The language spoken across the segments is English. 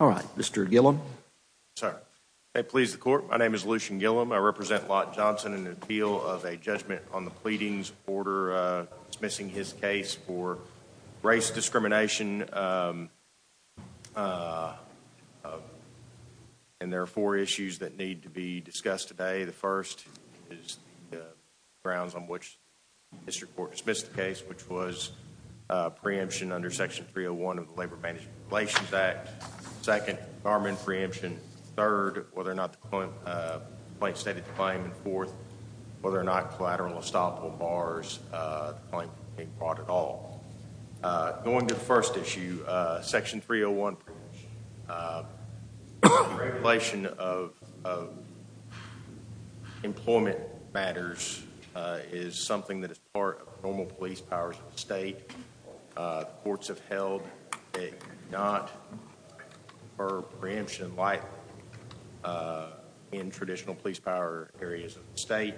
All right, Mr. Gillum. Sir, may it please the court, my name is Lucian Gillum. I represent Lott Johnson in an appeal of a judgment on the pleadings order dismissing his case for race discrimination. And there are four issues that need to be discussed today. The first is the grounds on which the district court dismissed the case, which was preemption under Section 301 of the Labor Advantage Preparations Act. Second, fireman preemption. Third, whether or not the plaintiff stated the claim. And fourth, whether or not collateral estoppel bars the claim can be brought at all. Going to the first issue, Section 301. Regulation of employment matters is something that is part of normal police powers of the state. Courts have held it not for preemption in light in traditional police power areas of the state.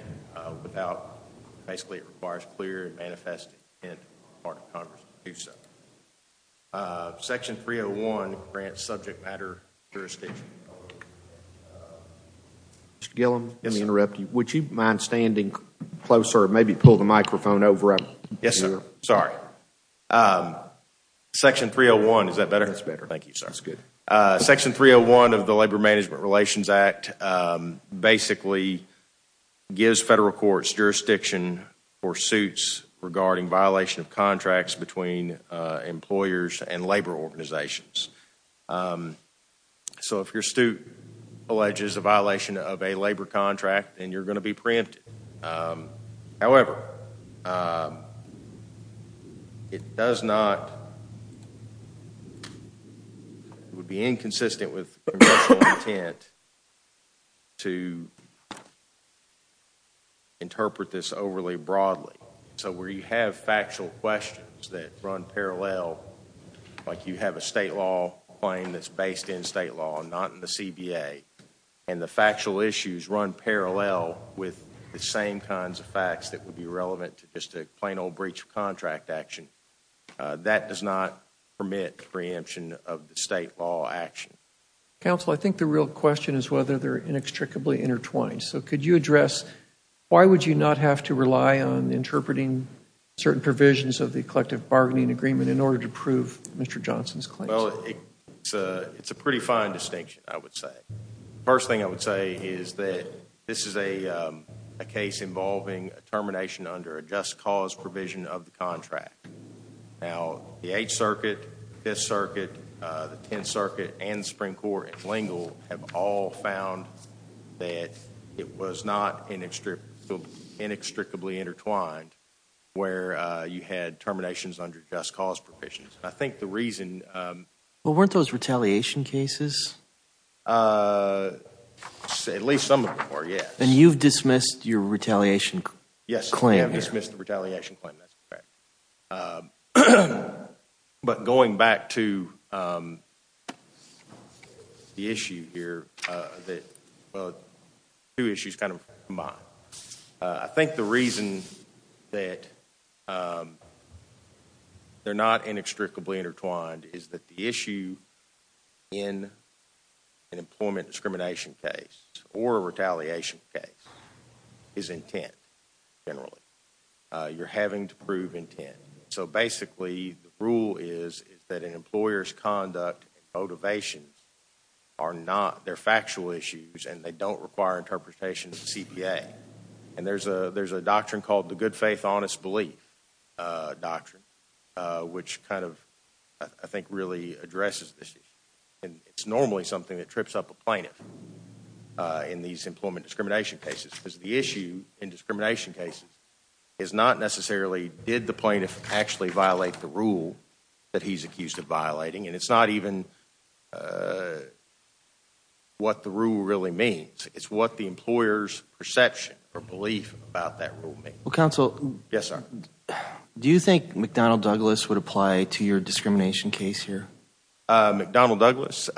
Basically, it requires clear and manifest intent on the part of Congress to do so. Section 301 grants subject matter jurisdiction. Mr. Gillum, let me interrupt you. Would you mind standing closer? Maybe pull the microphone over up here. Yes, sir. Sorry. Section 301. Is that better? That's better. Thank you, sir. That's good. Section 301 of the Labor Management Relations Act basically gives federal courts jurisdiction for suits regarding violation of contracts between employers and labor organizations. So if your suit alleges a violation of a labor contract, then you're going to be preempted. However, it would be inconsistent with the intent to interpret this overly broadly. So where you have factual questions that run parallel, like you have a state law claim that's based in state law, not in the CBA, and the factual issues run parallel with the same kinds of facts that would be relevant to just a plain old breach of contract action, that does not permit preemption of the state law action. Counsel, I think the real question is whether they're inextricably intertwined. So could you address why would you not have to rely on interpreting certain provisions of the collective bargaining agreement in order to prove Mr. Johnson's claims? Well, it's a pretty fine distinction, I would say. First thing I would say is that this is a case involving a termination under a just cause provision of the contract. Now, the Eighth Circuit, Fifth Circuit, the Tenth Circuit, and the Supreme Court in L'Engle have all found that it was not inextricably intertwined where you had terminations under just cause provisions. I think the reason… Well, weren't those retaliation cases? At least some of them were, yes. And you've dismissed your retaliation claim here? Yes, I've dismissed the retaliation claim. But going back to the issue here, well, two issues kind of combined. I think the reason that they're not inextricably intertwined is that the issue in an employment discrimination case or a retaliation case is intent, generally. You're having to prove intent. So basically, the rule is that an employer's conduct and motivations are not – they're factual issues and they don't require interpretation of the CPA. And there's a doctrine called the good faith, honest belief doctrine, which kind of, I think, really addresses this issue. And it's normally something that trips up a plaintiff in these employment discrimination cases because the issue in discrimination cases is not necessarily did the plaintiff actually violate the rule that he's accused of violating. And it's not even what the rule really means. It's what the employer's perception or belief about that rule means. Well, counsel… Yes, sir. Do you think McDonnell Douglas would apply to your discrimination case here? McDonnell Douglas?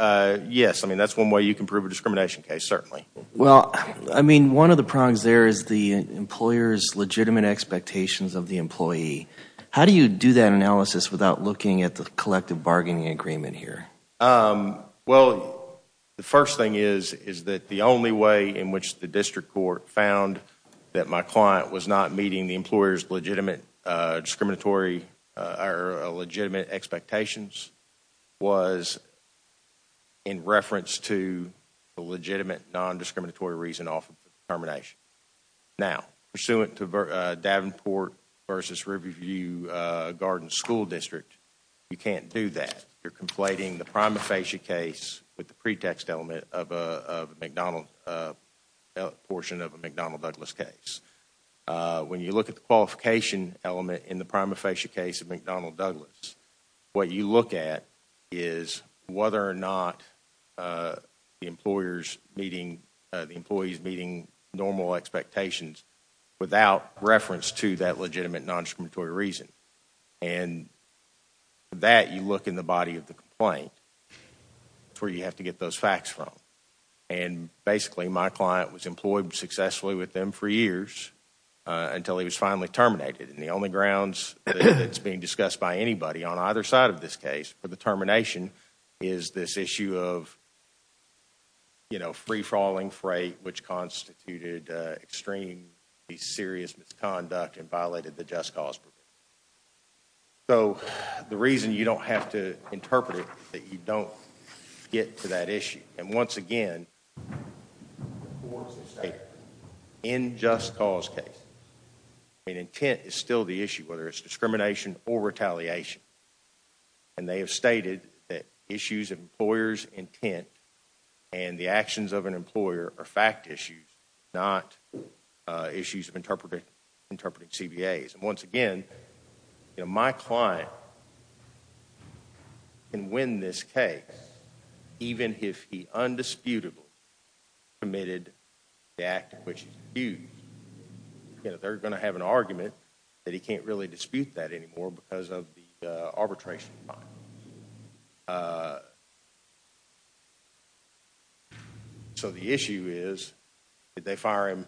Yes. I mean, that's one way you can prove a discrimination case, certainly. Well, I mean, one of the prongs there is the employer's legitimate expectations of the employee. How do you do that analysis without looking at the collective bargaining agreement here? Well, the first thing is that the only way in which the district court found that my client was not meeting the employer's legitimate expectations was in reference to the legitimate non-discriminatory reason off of the termination. Now, pursuant to Davenport v. Riverview Garden School District, you can't do that. You're conflating the prima facie case with the pretext element of a McDonnell, portion of a McDonnell Douglas case. When you look at the qualification element in the prima facie case of McDonnell Douglas, what you look at is whether or not the employer's meeting, the employee's meeting normal expectations without reference to that legitimate non-discriminatory reason. And for that, you look in the body of the complaint. That's where you have to get those facts from. And basically, my client was employed successfully with them for years until he was finally terminated. And the only grounds that's being discussed by anybody on either side of this case for the termination is this issue of free-falling freight, which constituted extremely serious misconduct and violated the just cause provision. So the reason you don't have to interpret it is that you don't get to that issue. And once again, in just cause cases, intent is still the issue, whether it's discrimination or retaliation. And they have stated that issues of employer's intent and the actions of an employer are fact issues, not issues of interpreting CBAs. And once again, my client can win this case even if he undisputably committed the act of which he's accused. They're going to have an argument that he can't really dispute that anymore because of the arbitration. So the issue is, did they fire him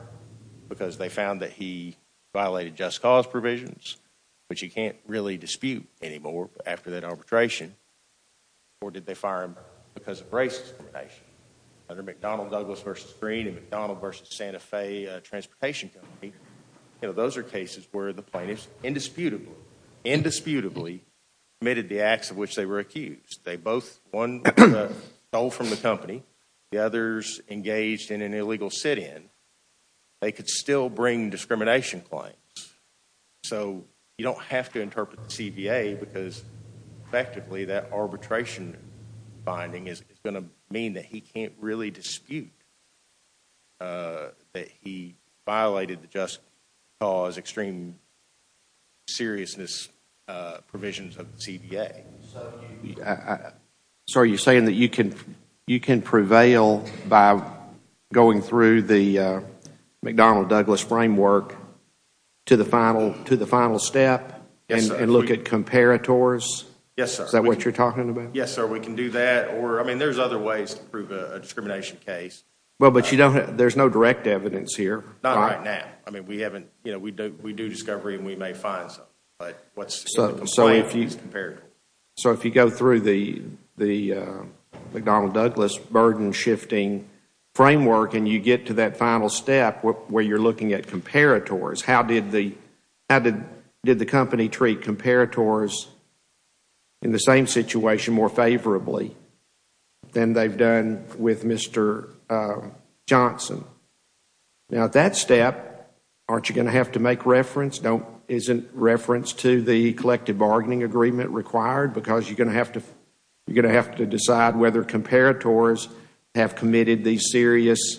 because they found that he violated just cause provisions, which he can't really dispute anymore after that arbitration, or did they fire him because of racist discrimination? Under McDonnell-Douglas v. Green and McDonnell v. Santa Fe Transportation Company, those are cases where the plaintiff indisputably, indisputably committed the acts of which they were accused. They both, one was stole from the company, the others engaged in an illegal sit-in. They could still bring discrimination claims. So you don't have to interpret the CBA because effectively that arbitration finding is going to mean that he can't really dispute that he violated the just cause extreme seriousness provisions of the CBA. So are you saying that you can prevail by going through the McDonnell-Douglas framework to the final step and look at comparators? Yes, sir. Is that what you're talking about? Yes, sir. We can do that. I mean, there's other ways to prove a discrimination case. Well, but there's no direct evidence here. Not right now. I mean, we do discovery and we may find something. So if you go through the McDonnell-Douglas burden-shifting framework and you get to that final step where you're looking at comparators, how did the company treat comparators in the same situation more favorably than they've done with Mr. Johnson? Now at that step, aren't you going to have to make reference? Isn't reference to the collective bargaining agreement required? Because you're going to have to decide whether comparators have committed these serious,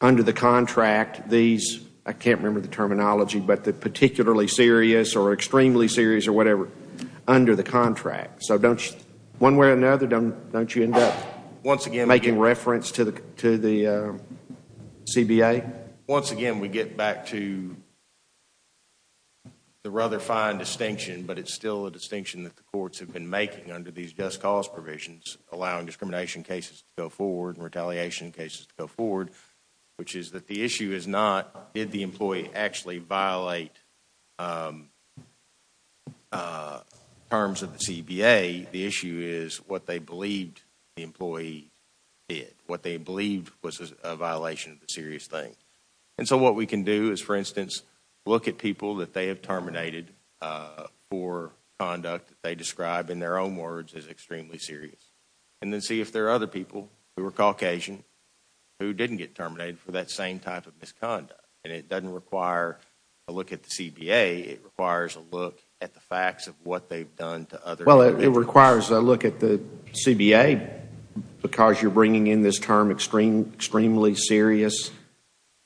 under the contract, these, I can't remember the terminology, but the particularly serious or extremely serious or whatever under the contract. So don't you, one way or another, don't you end up making reference to the CBA? I think, once again, we get back to the rather fine distinction, but it's still a distinction that the courts have been making under these just cause provisions, allowing discrimination cases to go forward and retaliation cases to go forward, which is that the issue is not did the employee actually violate terms of the CBA. The issue is what they believed the employee did, what they believed was a violation of the serious thing. And so what we can do is, for instance, look at people that they have terminated for conduct that they describe in their own words as extremely serious and then see if there are other people who are Caucasian who didn't get terminated for that same type of misconduct. And it doesn't require a look at the CBA. It requires a look at the facts of what they've done to other individuals. It requires a look at the CBA because you're bringing in this term extremely serious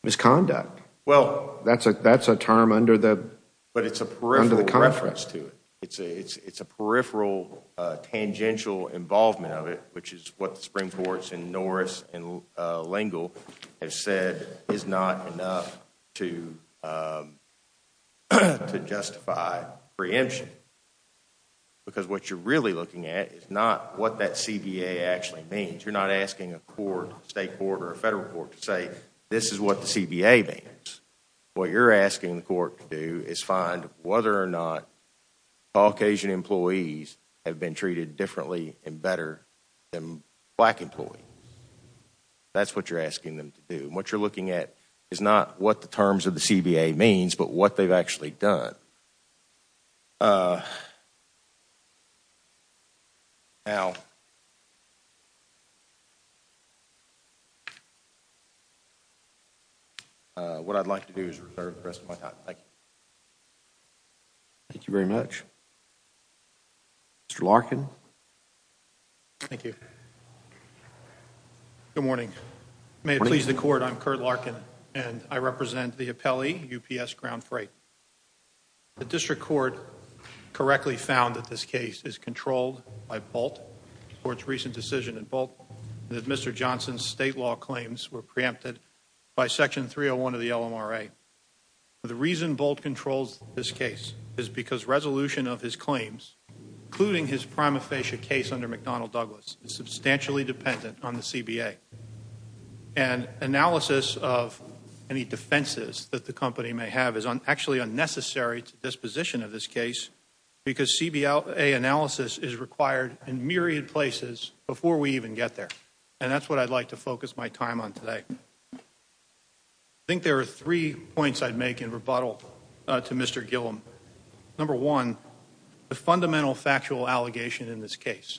misconduct. Well, that's a term under the contract. But it's a peripheral reference to it. It's a peripheral tangential involvement of it, which is what the Supreme Courts in Norris and L'Engle have said is not enough to justify preemption because what you're really looking at is not what that CBA actually means. You're not asking a court, state court or a federal court to say this is what the CBA means. What you're asking the court to do is find whether or not Caucasian employees have been treated differently and better than black employees. That's what you're asking them to do. And what you're looking at is not what the terms of the CBA means but what they've actually done. Now, what I'd like to do is reserve the rest of my time. Thank you very much. Mr. Larkin. Thank you. Good morning. May it please the court, I'm Curt Larkin, and I represent the appellee, UPS Ground Freight. The district court correctly found that this case is controlled by Bolt, the court's recent decision in Bolt, that Mr. Johnson's state law claims were preempted by Section 301 of the LMRA. The reason Bolt controls this case is because resolution of his claims, including his prima facie case under McDonnell Douglas, is substantially dependent on the CBA. And analysis of any defenses that the company may have is actually unnecessary to disposition of this case because CBA analysis is required in myriad places before we even get there. And that's what I'd like to focus my time on today. I think there are three points I'd make in rebuttal to Mr. Gillum. Number one, the fundamental factual allegation in this case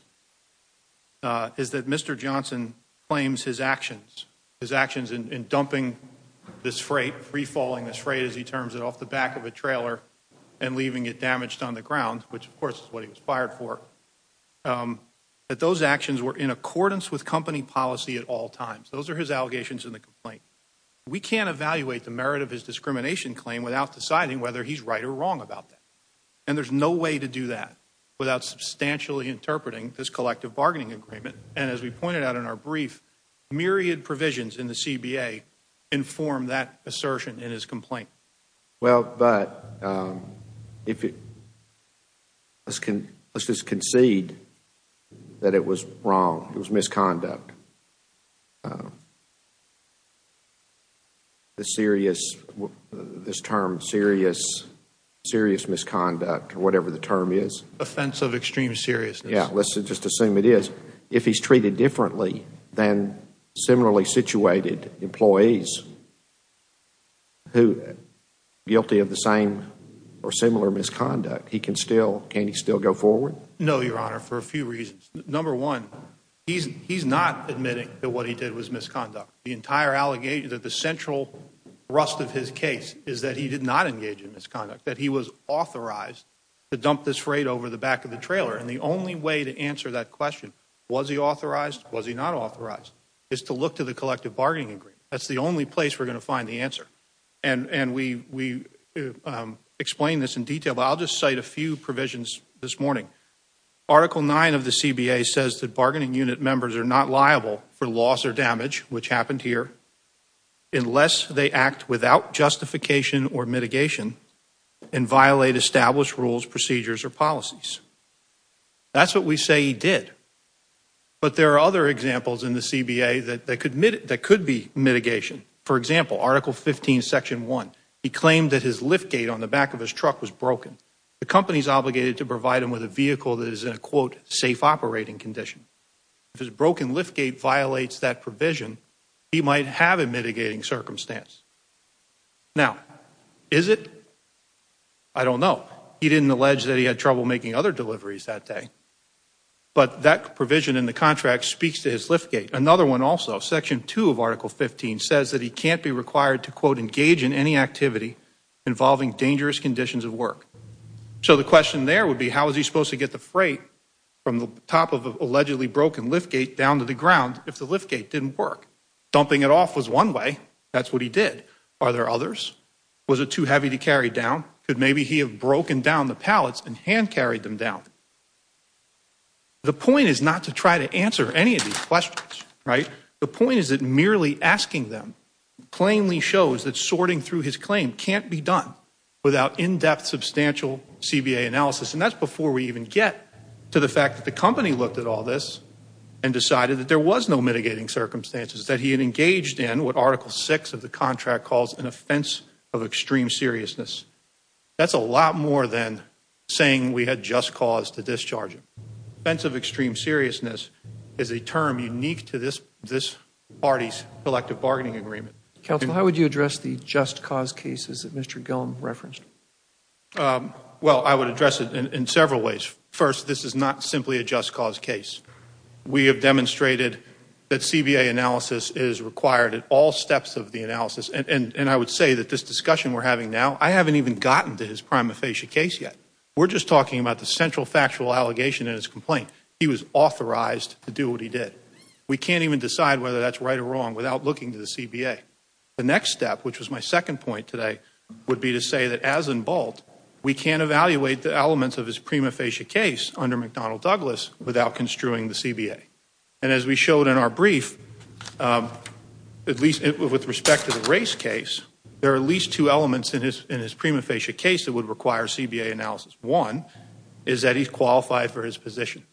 is that Mr. Johnson claims his actions, his actions in dumping this freight, free-falling this freight as he terms it, off the back of a trailer and leaving it damaged on the ground, which, of course, is what he was fired for, that those actions were in accordance with company policy at all times. Those are his allegations in the complaint. We can't evaluate the merit of his discrimination claim without deciding whether he's right or wrong about that. And there's no way to do that without substantially interpreting this collective bargaining agreement. And as we pointed out in our brief, myriad provisions in the CBA inform that assertion in his complaint. Well, but let's just concede that it was wrong. It was misconduct. The serious, this term serious, serious misconduct or whatever the term is. Offense of extreme seriousness. Yeah, let's just assume it is. If he's treated differently than similarly situated employees who are guilty of the same or similar misconduct, he can still, can he still go forward? No, Your Honor, for a few reasons. Number one, he's not admitting that what he did was misconduct. The entire allegation that the central rust of his case is that he did not engage in misconduct, that he was authorized to dump this freight over the back of the trailer. And the only way to answer that question, was he authorized, was he not authorized, is to look to the collective bargaining agreement. That's the only place we're going to find the answer. And we explain this in detail, but I'll just cite a few provisions this morning. Article 9 of the CBA says that bargaining unit members are not liable for loss or damage, which happened here, unless they act without justification or mitigation and violate established rules, procedures, or policies. That's what we say he did. But there are other examples in the CBA that could be mitigation. For example, Article 15, Section 1. He claimed that his liftgate on the back of his truck was broken. The company is obligated to provide him with a vehicle that is in a, quote, safe operating condition. If his broken liftgate violates that provision, he might have a mitigating circumstance. Now, is it? I don't know. He didn't allege that he had trouble making other deliveries that day. But that provision in the contract speaks to his liftgate. Another one also, Section 2 of Article 15 says that he can't be required to, quote, engage in any activity involving dangerous conditions of work. So the question there would be, how is he supposed to get the freight from the top of an allegedly broken liftgate down to the ground if the liftgate didn't work? Dumping it off was one way. That's what he did. Are there others? Was it too heavy to carry down? Could maybe he have broken down the pallets and hand-carried them down? The point is not to try to answer any of these questions, right? The point is that merely asking them plainly shows that sorting through his claim can't be done without in-depth, substantial CBA analysis. And that's before we even get to the fact that the company looked at all this and decided that there was no mitigating circumstances, that he had engaged in what Article 6 of the contract calls an offense of extreme seriousness. That's a lot more than saying we had just cause to discharge him. The offense of extreme seriousness is a term unique to this party's collective bargaining agreement. Counsel, how would you address the just cause cases that Mr. Gillum referenced? Well, I would address it in several ways. First, this is not simply a just cause case. We have demonstrated that CBA analysis is required at all steps of the analysis. And I would say that this discussion we're having now, I haven't even gotten to his prima facie case yet. We're just talking about the central factual allegation in his complaint. He was authorized to do what he did. We can't even decide whether that's right or wrong without looking to the CBA. The next step, which was my second point today, would be to say that as in Bolt, we can't evaluate the elements of his prima facie case under McDonnell Douglas without construing the CBA. And as we showed in our brief, at least with respect to the race case, there are at least two elements in his prima facie case that would require CBA analysis. One is that he's qualified for his position.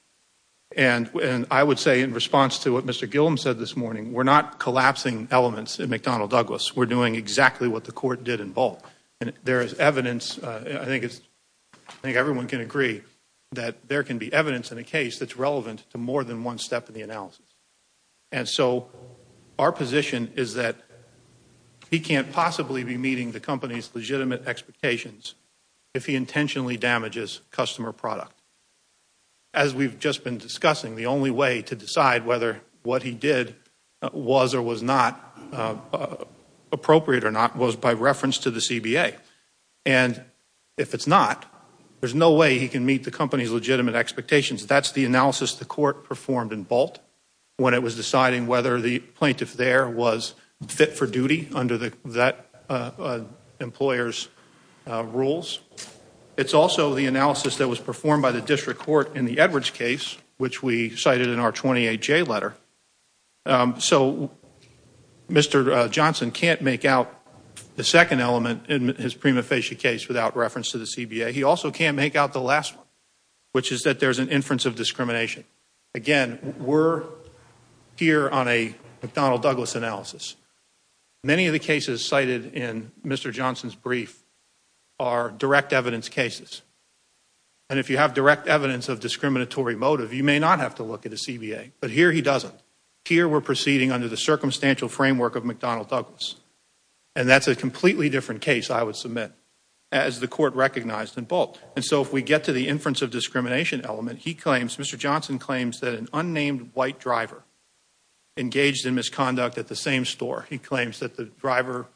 And I would say in response to what Mr. Gillum said this morning, we're not collapsing elements in McDonnell Douglas. We're doing exactly what the court did in Bolt. And there is evidence, I think everyone can agree, that there can be evidence in a case that's relevant to more than one step in the analysis. And so our position is that he can't possibly be meeting the company's legitimate expectations if he intentionally damages customer product. As we've just been discussing, the only way to decide whether what he did was or was not appropriate or not was by reference to the CBA. And if it's not, there's no way he can meet the company's legitimate expectations. That's the analysis the court performed in Bolt when it was deciding whether the plaintiff there was fit for duty under that employer's rules. It's also the analysis that was performed by the district court in the Edwards case, which we cited in our 28J letter. So Mr. Johnson can't make out the second element in his prima facie case without reference to the CBA. He also can't make out the last one, which is that there's an inference of discrimination. Again, we're here on a McDonnell-Douglas analysis. Many of the cases cited in Mr. Johnson's brief are direct evidence cases. And if you have direct evidence of discriminatory motive, you may not have to look at the CBA. But here he doesn't. Here we're proceeding under the circumstantial framework of McDonnell-Douglas. And that's a completely different case, I would submit, as the court recognized in Bolt. And so if we get to the inference of discrimination element, Mr. Johnson claims that an unnamed white driver engaged in misconduct at the same store. He claims that the driver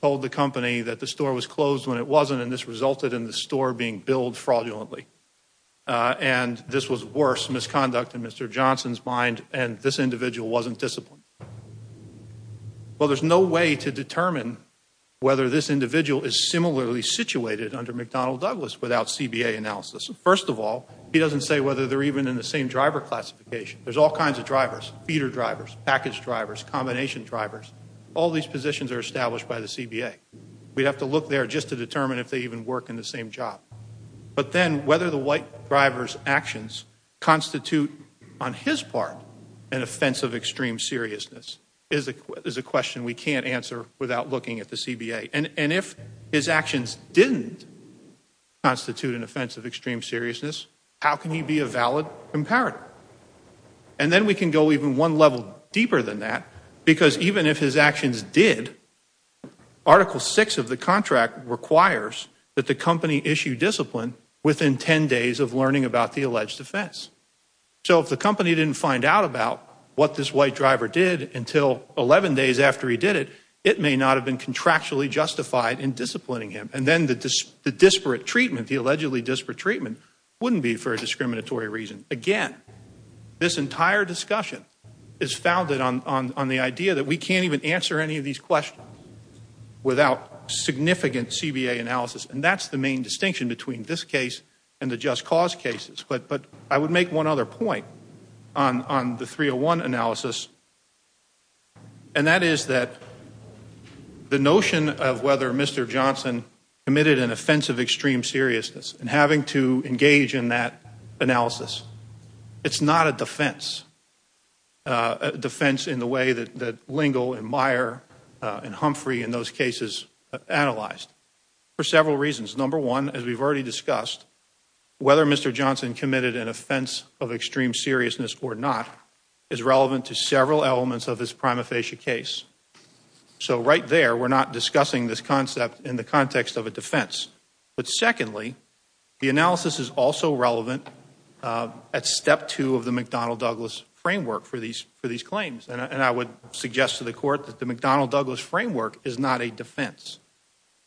told the company that the store was closed when it wasn't, and this resulted in the store being billed fraudulently. And this was worse misconduct in Mr. Johnson's mind, and this individual wasn't disciplined. Well, there's no way to determine whether this individual is similarly situated under McDonnell-Douglas without CBA analysis. First of all, he doesn't say whether they're even in the same driver classification. There's all kinds of drivers, feeder drivers, package drivers, combination drivers. All these positions are established by the CBA. We'd have to look there just to determine if they even work in the same job. But then whether the white driver's actions constitute, on his part, an offense of extreme seriousness is a question we can't answer without looking at the CBA. And if his actions didn't constitute an offense of extreme seriousness, how can he be a valid comparator? And then we can go even one level deeper than that, because even if his actions did, Article 6 of the contract requires that the company issue discipline within 10 days of learning about the alleged offense. So if the company didn't find out about what this white driver did until 11 days after he did it, it may not have been contractually justified in disciplining him. And then the disparate treatment, the allegedly disparate treatment, wouldn't be for a discriminatory reason. Again, this entire discussion is founded on the idea that we can't even answer any of these questions without significant CBA analysis. And that's the main distinction between this case and the Just Cause cases. But I would make one other point on the 301 analysis, and that is that the notion of whether Mr. Johnson committed an offense of extreme seriousness and having to engage in that analysis, it's not a defense, a defense in the way that Lingle and Meyer and Humphrey in those cases analyzed for several reasons. Number one, as we've already discussed, whether Mr. Johnson committed an offense of extreme seriousness or not is relevant to several elements of this prima facie case. So right there, we're not discussing this concept in the context of a defense. But secondly, the analysis is also relevant at step two of the McDonnell-Douglas framework for these claims. And I would suggest to the Court that the McDonnell-Douglas framework is not a defense.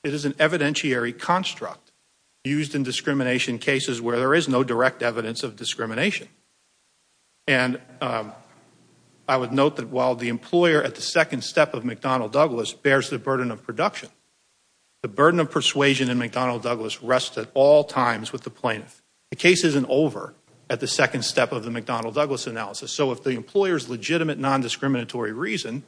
It is an evidentiary construct used in discrimination cases where there is no direct evidence of discrimination. And I would note that while the employer at the second step of McDonnell-Douglas bears the burden of production, the burden of persuasion in McDonnell-Douglas rests at all times with the plaintiff. The case isn't over at the second step of the McDonnell-Douglas analysis. So if the employer's legitimate nondiscriminatory reason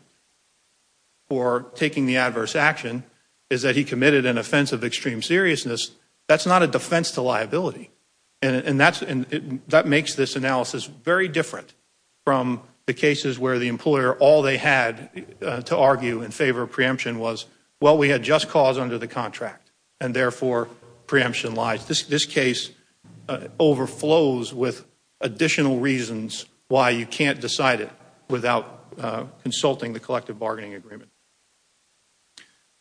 for taking the adverse action is that he committed an offense of extreme seriousness, that's not a defense to liability. And that makes this analysis very different from the cases where the employer, all they had to argue in favor of preemption was, well, we had just cause under the contract, and therefore preemption lies. This case overflows with additional reasons why you can't decide it without consulting the collective bargaining agreement.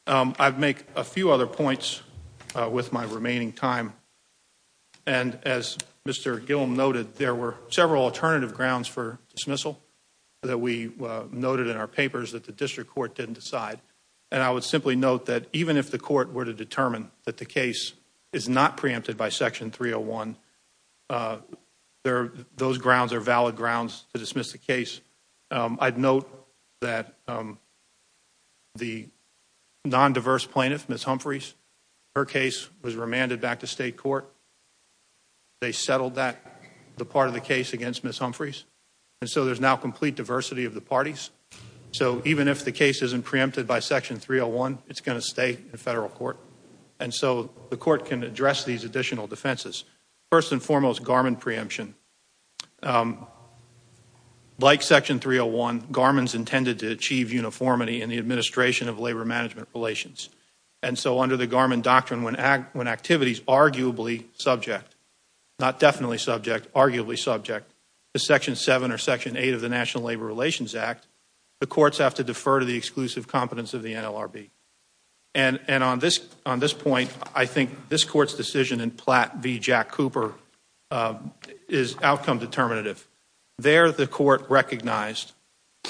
I'd make a few other points with my remaining time. And as Mr. Gillum noted, there were several alternative grounds for dismissal that we noted in our papers that the district court didn't decide. And I would simply note that even if the court were to determine that the case is not preempted by Section 301, those grounds are valid grounds to dismiss the case. I'd note that the nondiverse plaintiff, Ms. Humphreys, her case was remanded back to state court. They settled that, the part of the case against Ms. Humphreys. And so there's now complete diversity of the parties. So even if the case isn't preempted by Section 301, it's going to stay in federal court. And so the court can address these additional defenses. First and foremost, Garmin preemption. Like Section 301, Garmin's intended to achieve uniformity in the administration of labor-management relations. And so under the Garmin doctrine, when activity is arguably subject, not definitely subject, arguably subject, to Section 7 or Section 8 of the National Labor Relations Act, the courts have to defer to the exclusive competence of the NLRB. And on this point, I think this court's decision in Platt v. Jack Cooper is outcome determinative. There the court recognized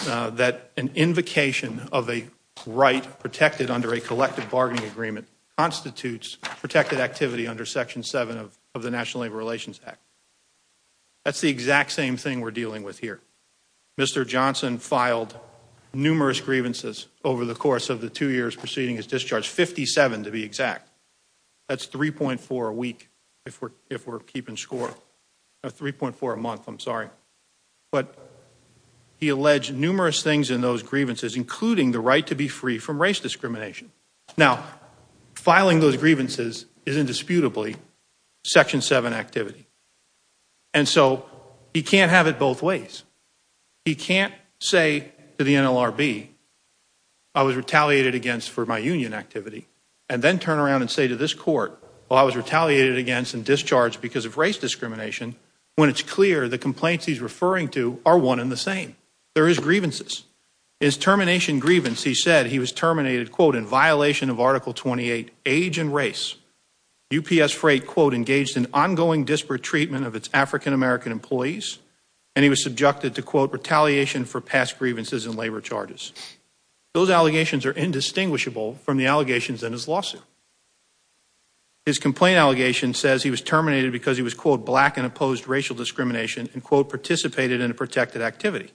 that an invocation of a right protected under a collective bargaining agreement constitutes protected activity under Section 7 of the National Labor Relations Act. That's the exact same thing we're dealing with here. Mr. Johnson filed numerous grievances over the course of the two years preceding his discharge, 57 to be exact. That's 3.4 a week if we're keeping score. No, 3.4 a month, I'm sorry. But he alleged numerous things in those grievances, including the right to be free from race discrimination. Now, filing those grievances is indisputably Section 7 activity. And so he can't have it both ways. He can't say to the NLRB, I was retaliated against for my union activity, and then turn around and say to this court, well, I was retaliated against and discharged because of race discrimination, when it's clear the complaints he's referring to are one and the same. There is grievances. His termination grievance, he said he was terminated, quote, in violation of Article 28, age and race. UPS Freight, quote, engaged in ongoing disparate treatment of its African-American employees, and he was subjected to, quote, retaliation for past grievances and labor charges. Those allegations are indistinguishable from the allegations in his lawsuit. His complaint allegation says he was terminated because he was, quote, black and opposed racial discrimination, and, quote, participated in a protected activity.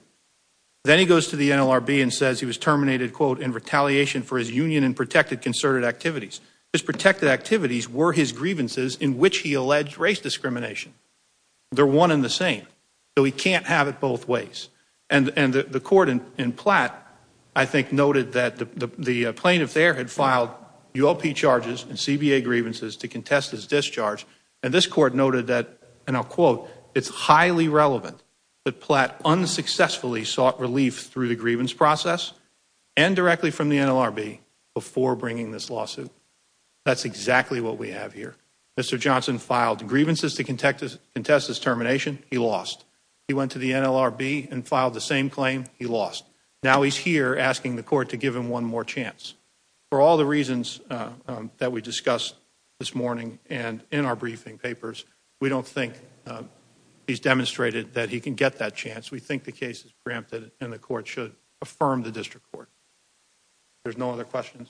Then he goes to the NLRB and says he was terminated, quote, in retaliation for his union and protected concerted activities. His protected activities were his grievances in which he alleged race discrimination. They're one and the same, so he can't have it both ways. And the court in Platt, I think, noted that the plaintiff there had filed ULP charges and CBA grievances to contest his discharge, and this court noted that, and I'll quote, it's highly relevant that Platt unsuccessfully sought relief through the grievance process and directly from the NLRB before bringing this lawsuit. That's exactly what we have here. Mr. Johnson filed grievances to contest his termination. He lost. He went to the NLRB and filed the same claim. He lost. Now he's here asking the court to give him one more chance. For all the reasons that we discussed this morning and in our briefing papers, we don't think he's demonstrated that he can get that chance. We think the case is preempted and the court should affirm the district court. There's no other questions.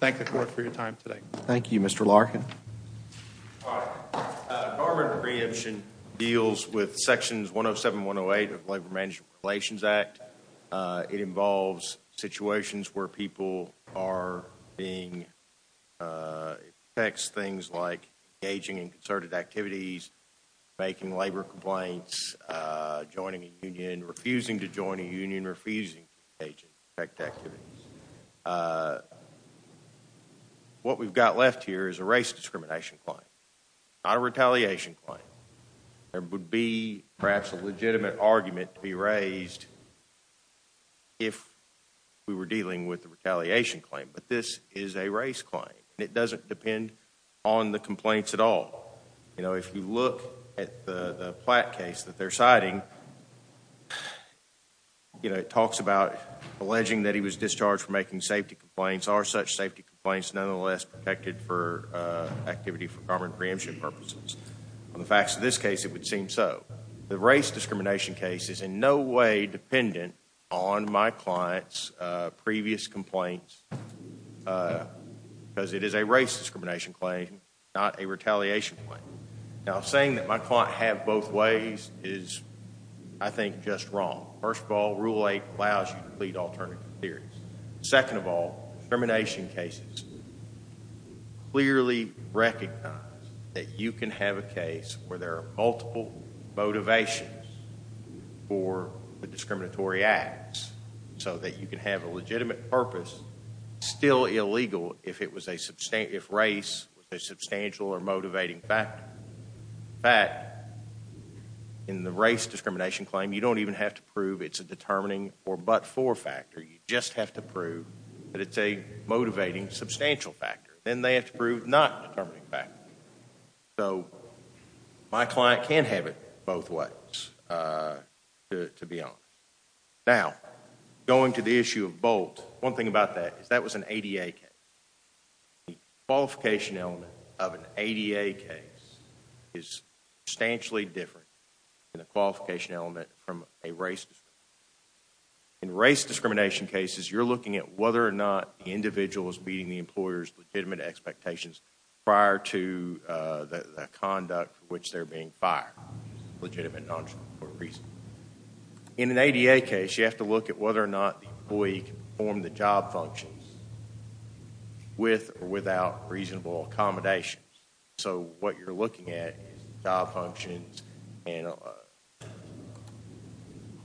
Thank the court for your time today. Thank you, Mr. Larkin. All right. Government preemption deals with sections 107 and 108 of the Labor Management Relations Act. It involves situations where people are being, it protects things like engaging in concerted activities, making labor complaints, joining a union, refusing to join a union, refusing to engage in concerted activities. What we've got left here is a race discrimination claim, not a retaliation claim. There would be perhaps a legitimate argument to be raised if we were dealing with a retaliation claim, but this is a race claim. It doesn't depend on the complaints at all. You know, if you look at the Platt case that they're citing, you know, it talks about alleging that he was discharged from making safety complaints. Are such safety complaints nonetheless protected for activity for government preemption purposes? On the facts of this case, it would seem so. The race discrimination case is in no way dependent on my client's previous complaints because it is a race discrimination claim, not a retaliation claim. Now, saying that my client had both ways is, I think, just wrong. First of all, Rule 8 allows you to plead alternative theories. Second of all, discrimination cases clearly recognize that you can have a case where there are multiple motivations for the discriminatory acts so that you can have a legitimate purpose still illegal if race was a substantial or motivating factor. In fact, in the race discrimination claim, you don't even have to prove it's a determining or but-for factor. You just have to prove that it's a motivating substantial factor. Then they have to prove not a determining factor. So my client can have it both ways, to be honest. Now, going to the issue of Bolt, one thing about that is that was an ADA case. The qualification element of an ADA case is substantially different than the qualification element from a race discrimination case. In race discrimination cases, you're looking at whether or not the individual is meeting the employer's legitimate expectations prior to the conduct for which they're being fired, legitimate, non-legitimate reason. In an ADA case, you have to look at whether or not the employee can perform the job functions with or without reasonable accommodations. So what you're looking at is job functions and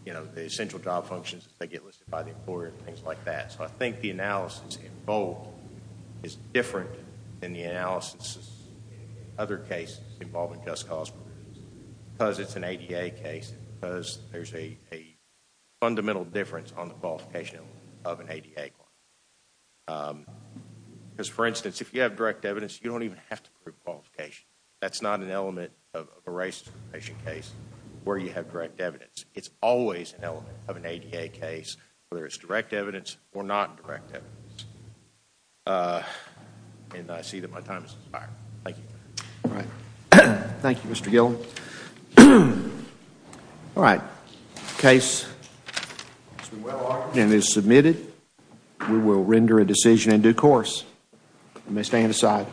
the essential job functions that get listed by the employer and things like that. So I think the analysis in Bolt is different than the analysis in other cases involving just cause. Because it's an ADA case, because there's a fundamental difference on the qualification of an ADA claim. Because, for instance, if you have direct evidence, you don't even have to prove qualification. That's not an element of a race discrimination case where you have direct evidence. It's always an element of an ADA case, whether it's direct evidence or not direct evidence. And I see that my time has expired. Thank you. All right. Thank you, Mr. Gill. All right. Case is well ordered and is submitted. We will render a decision in due course. You may stand aside.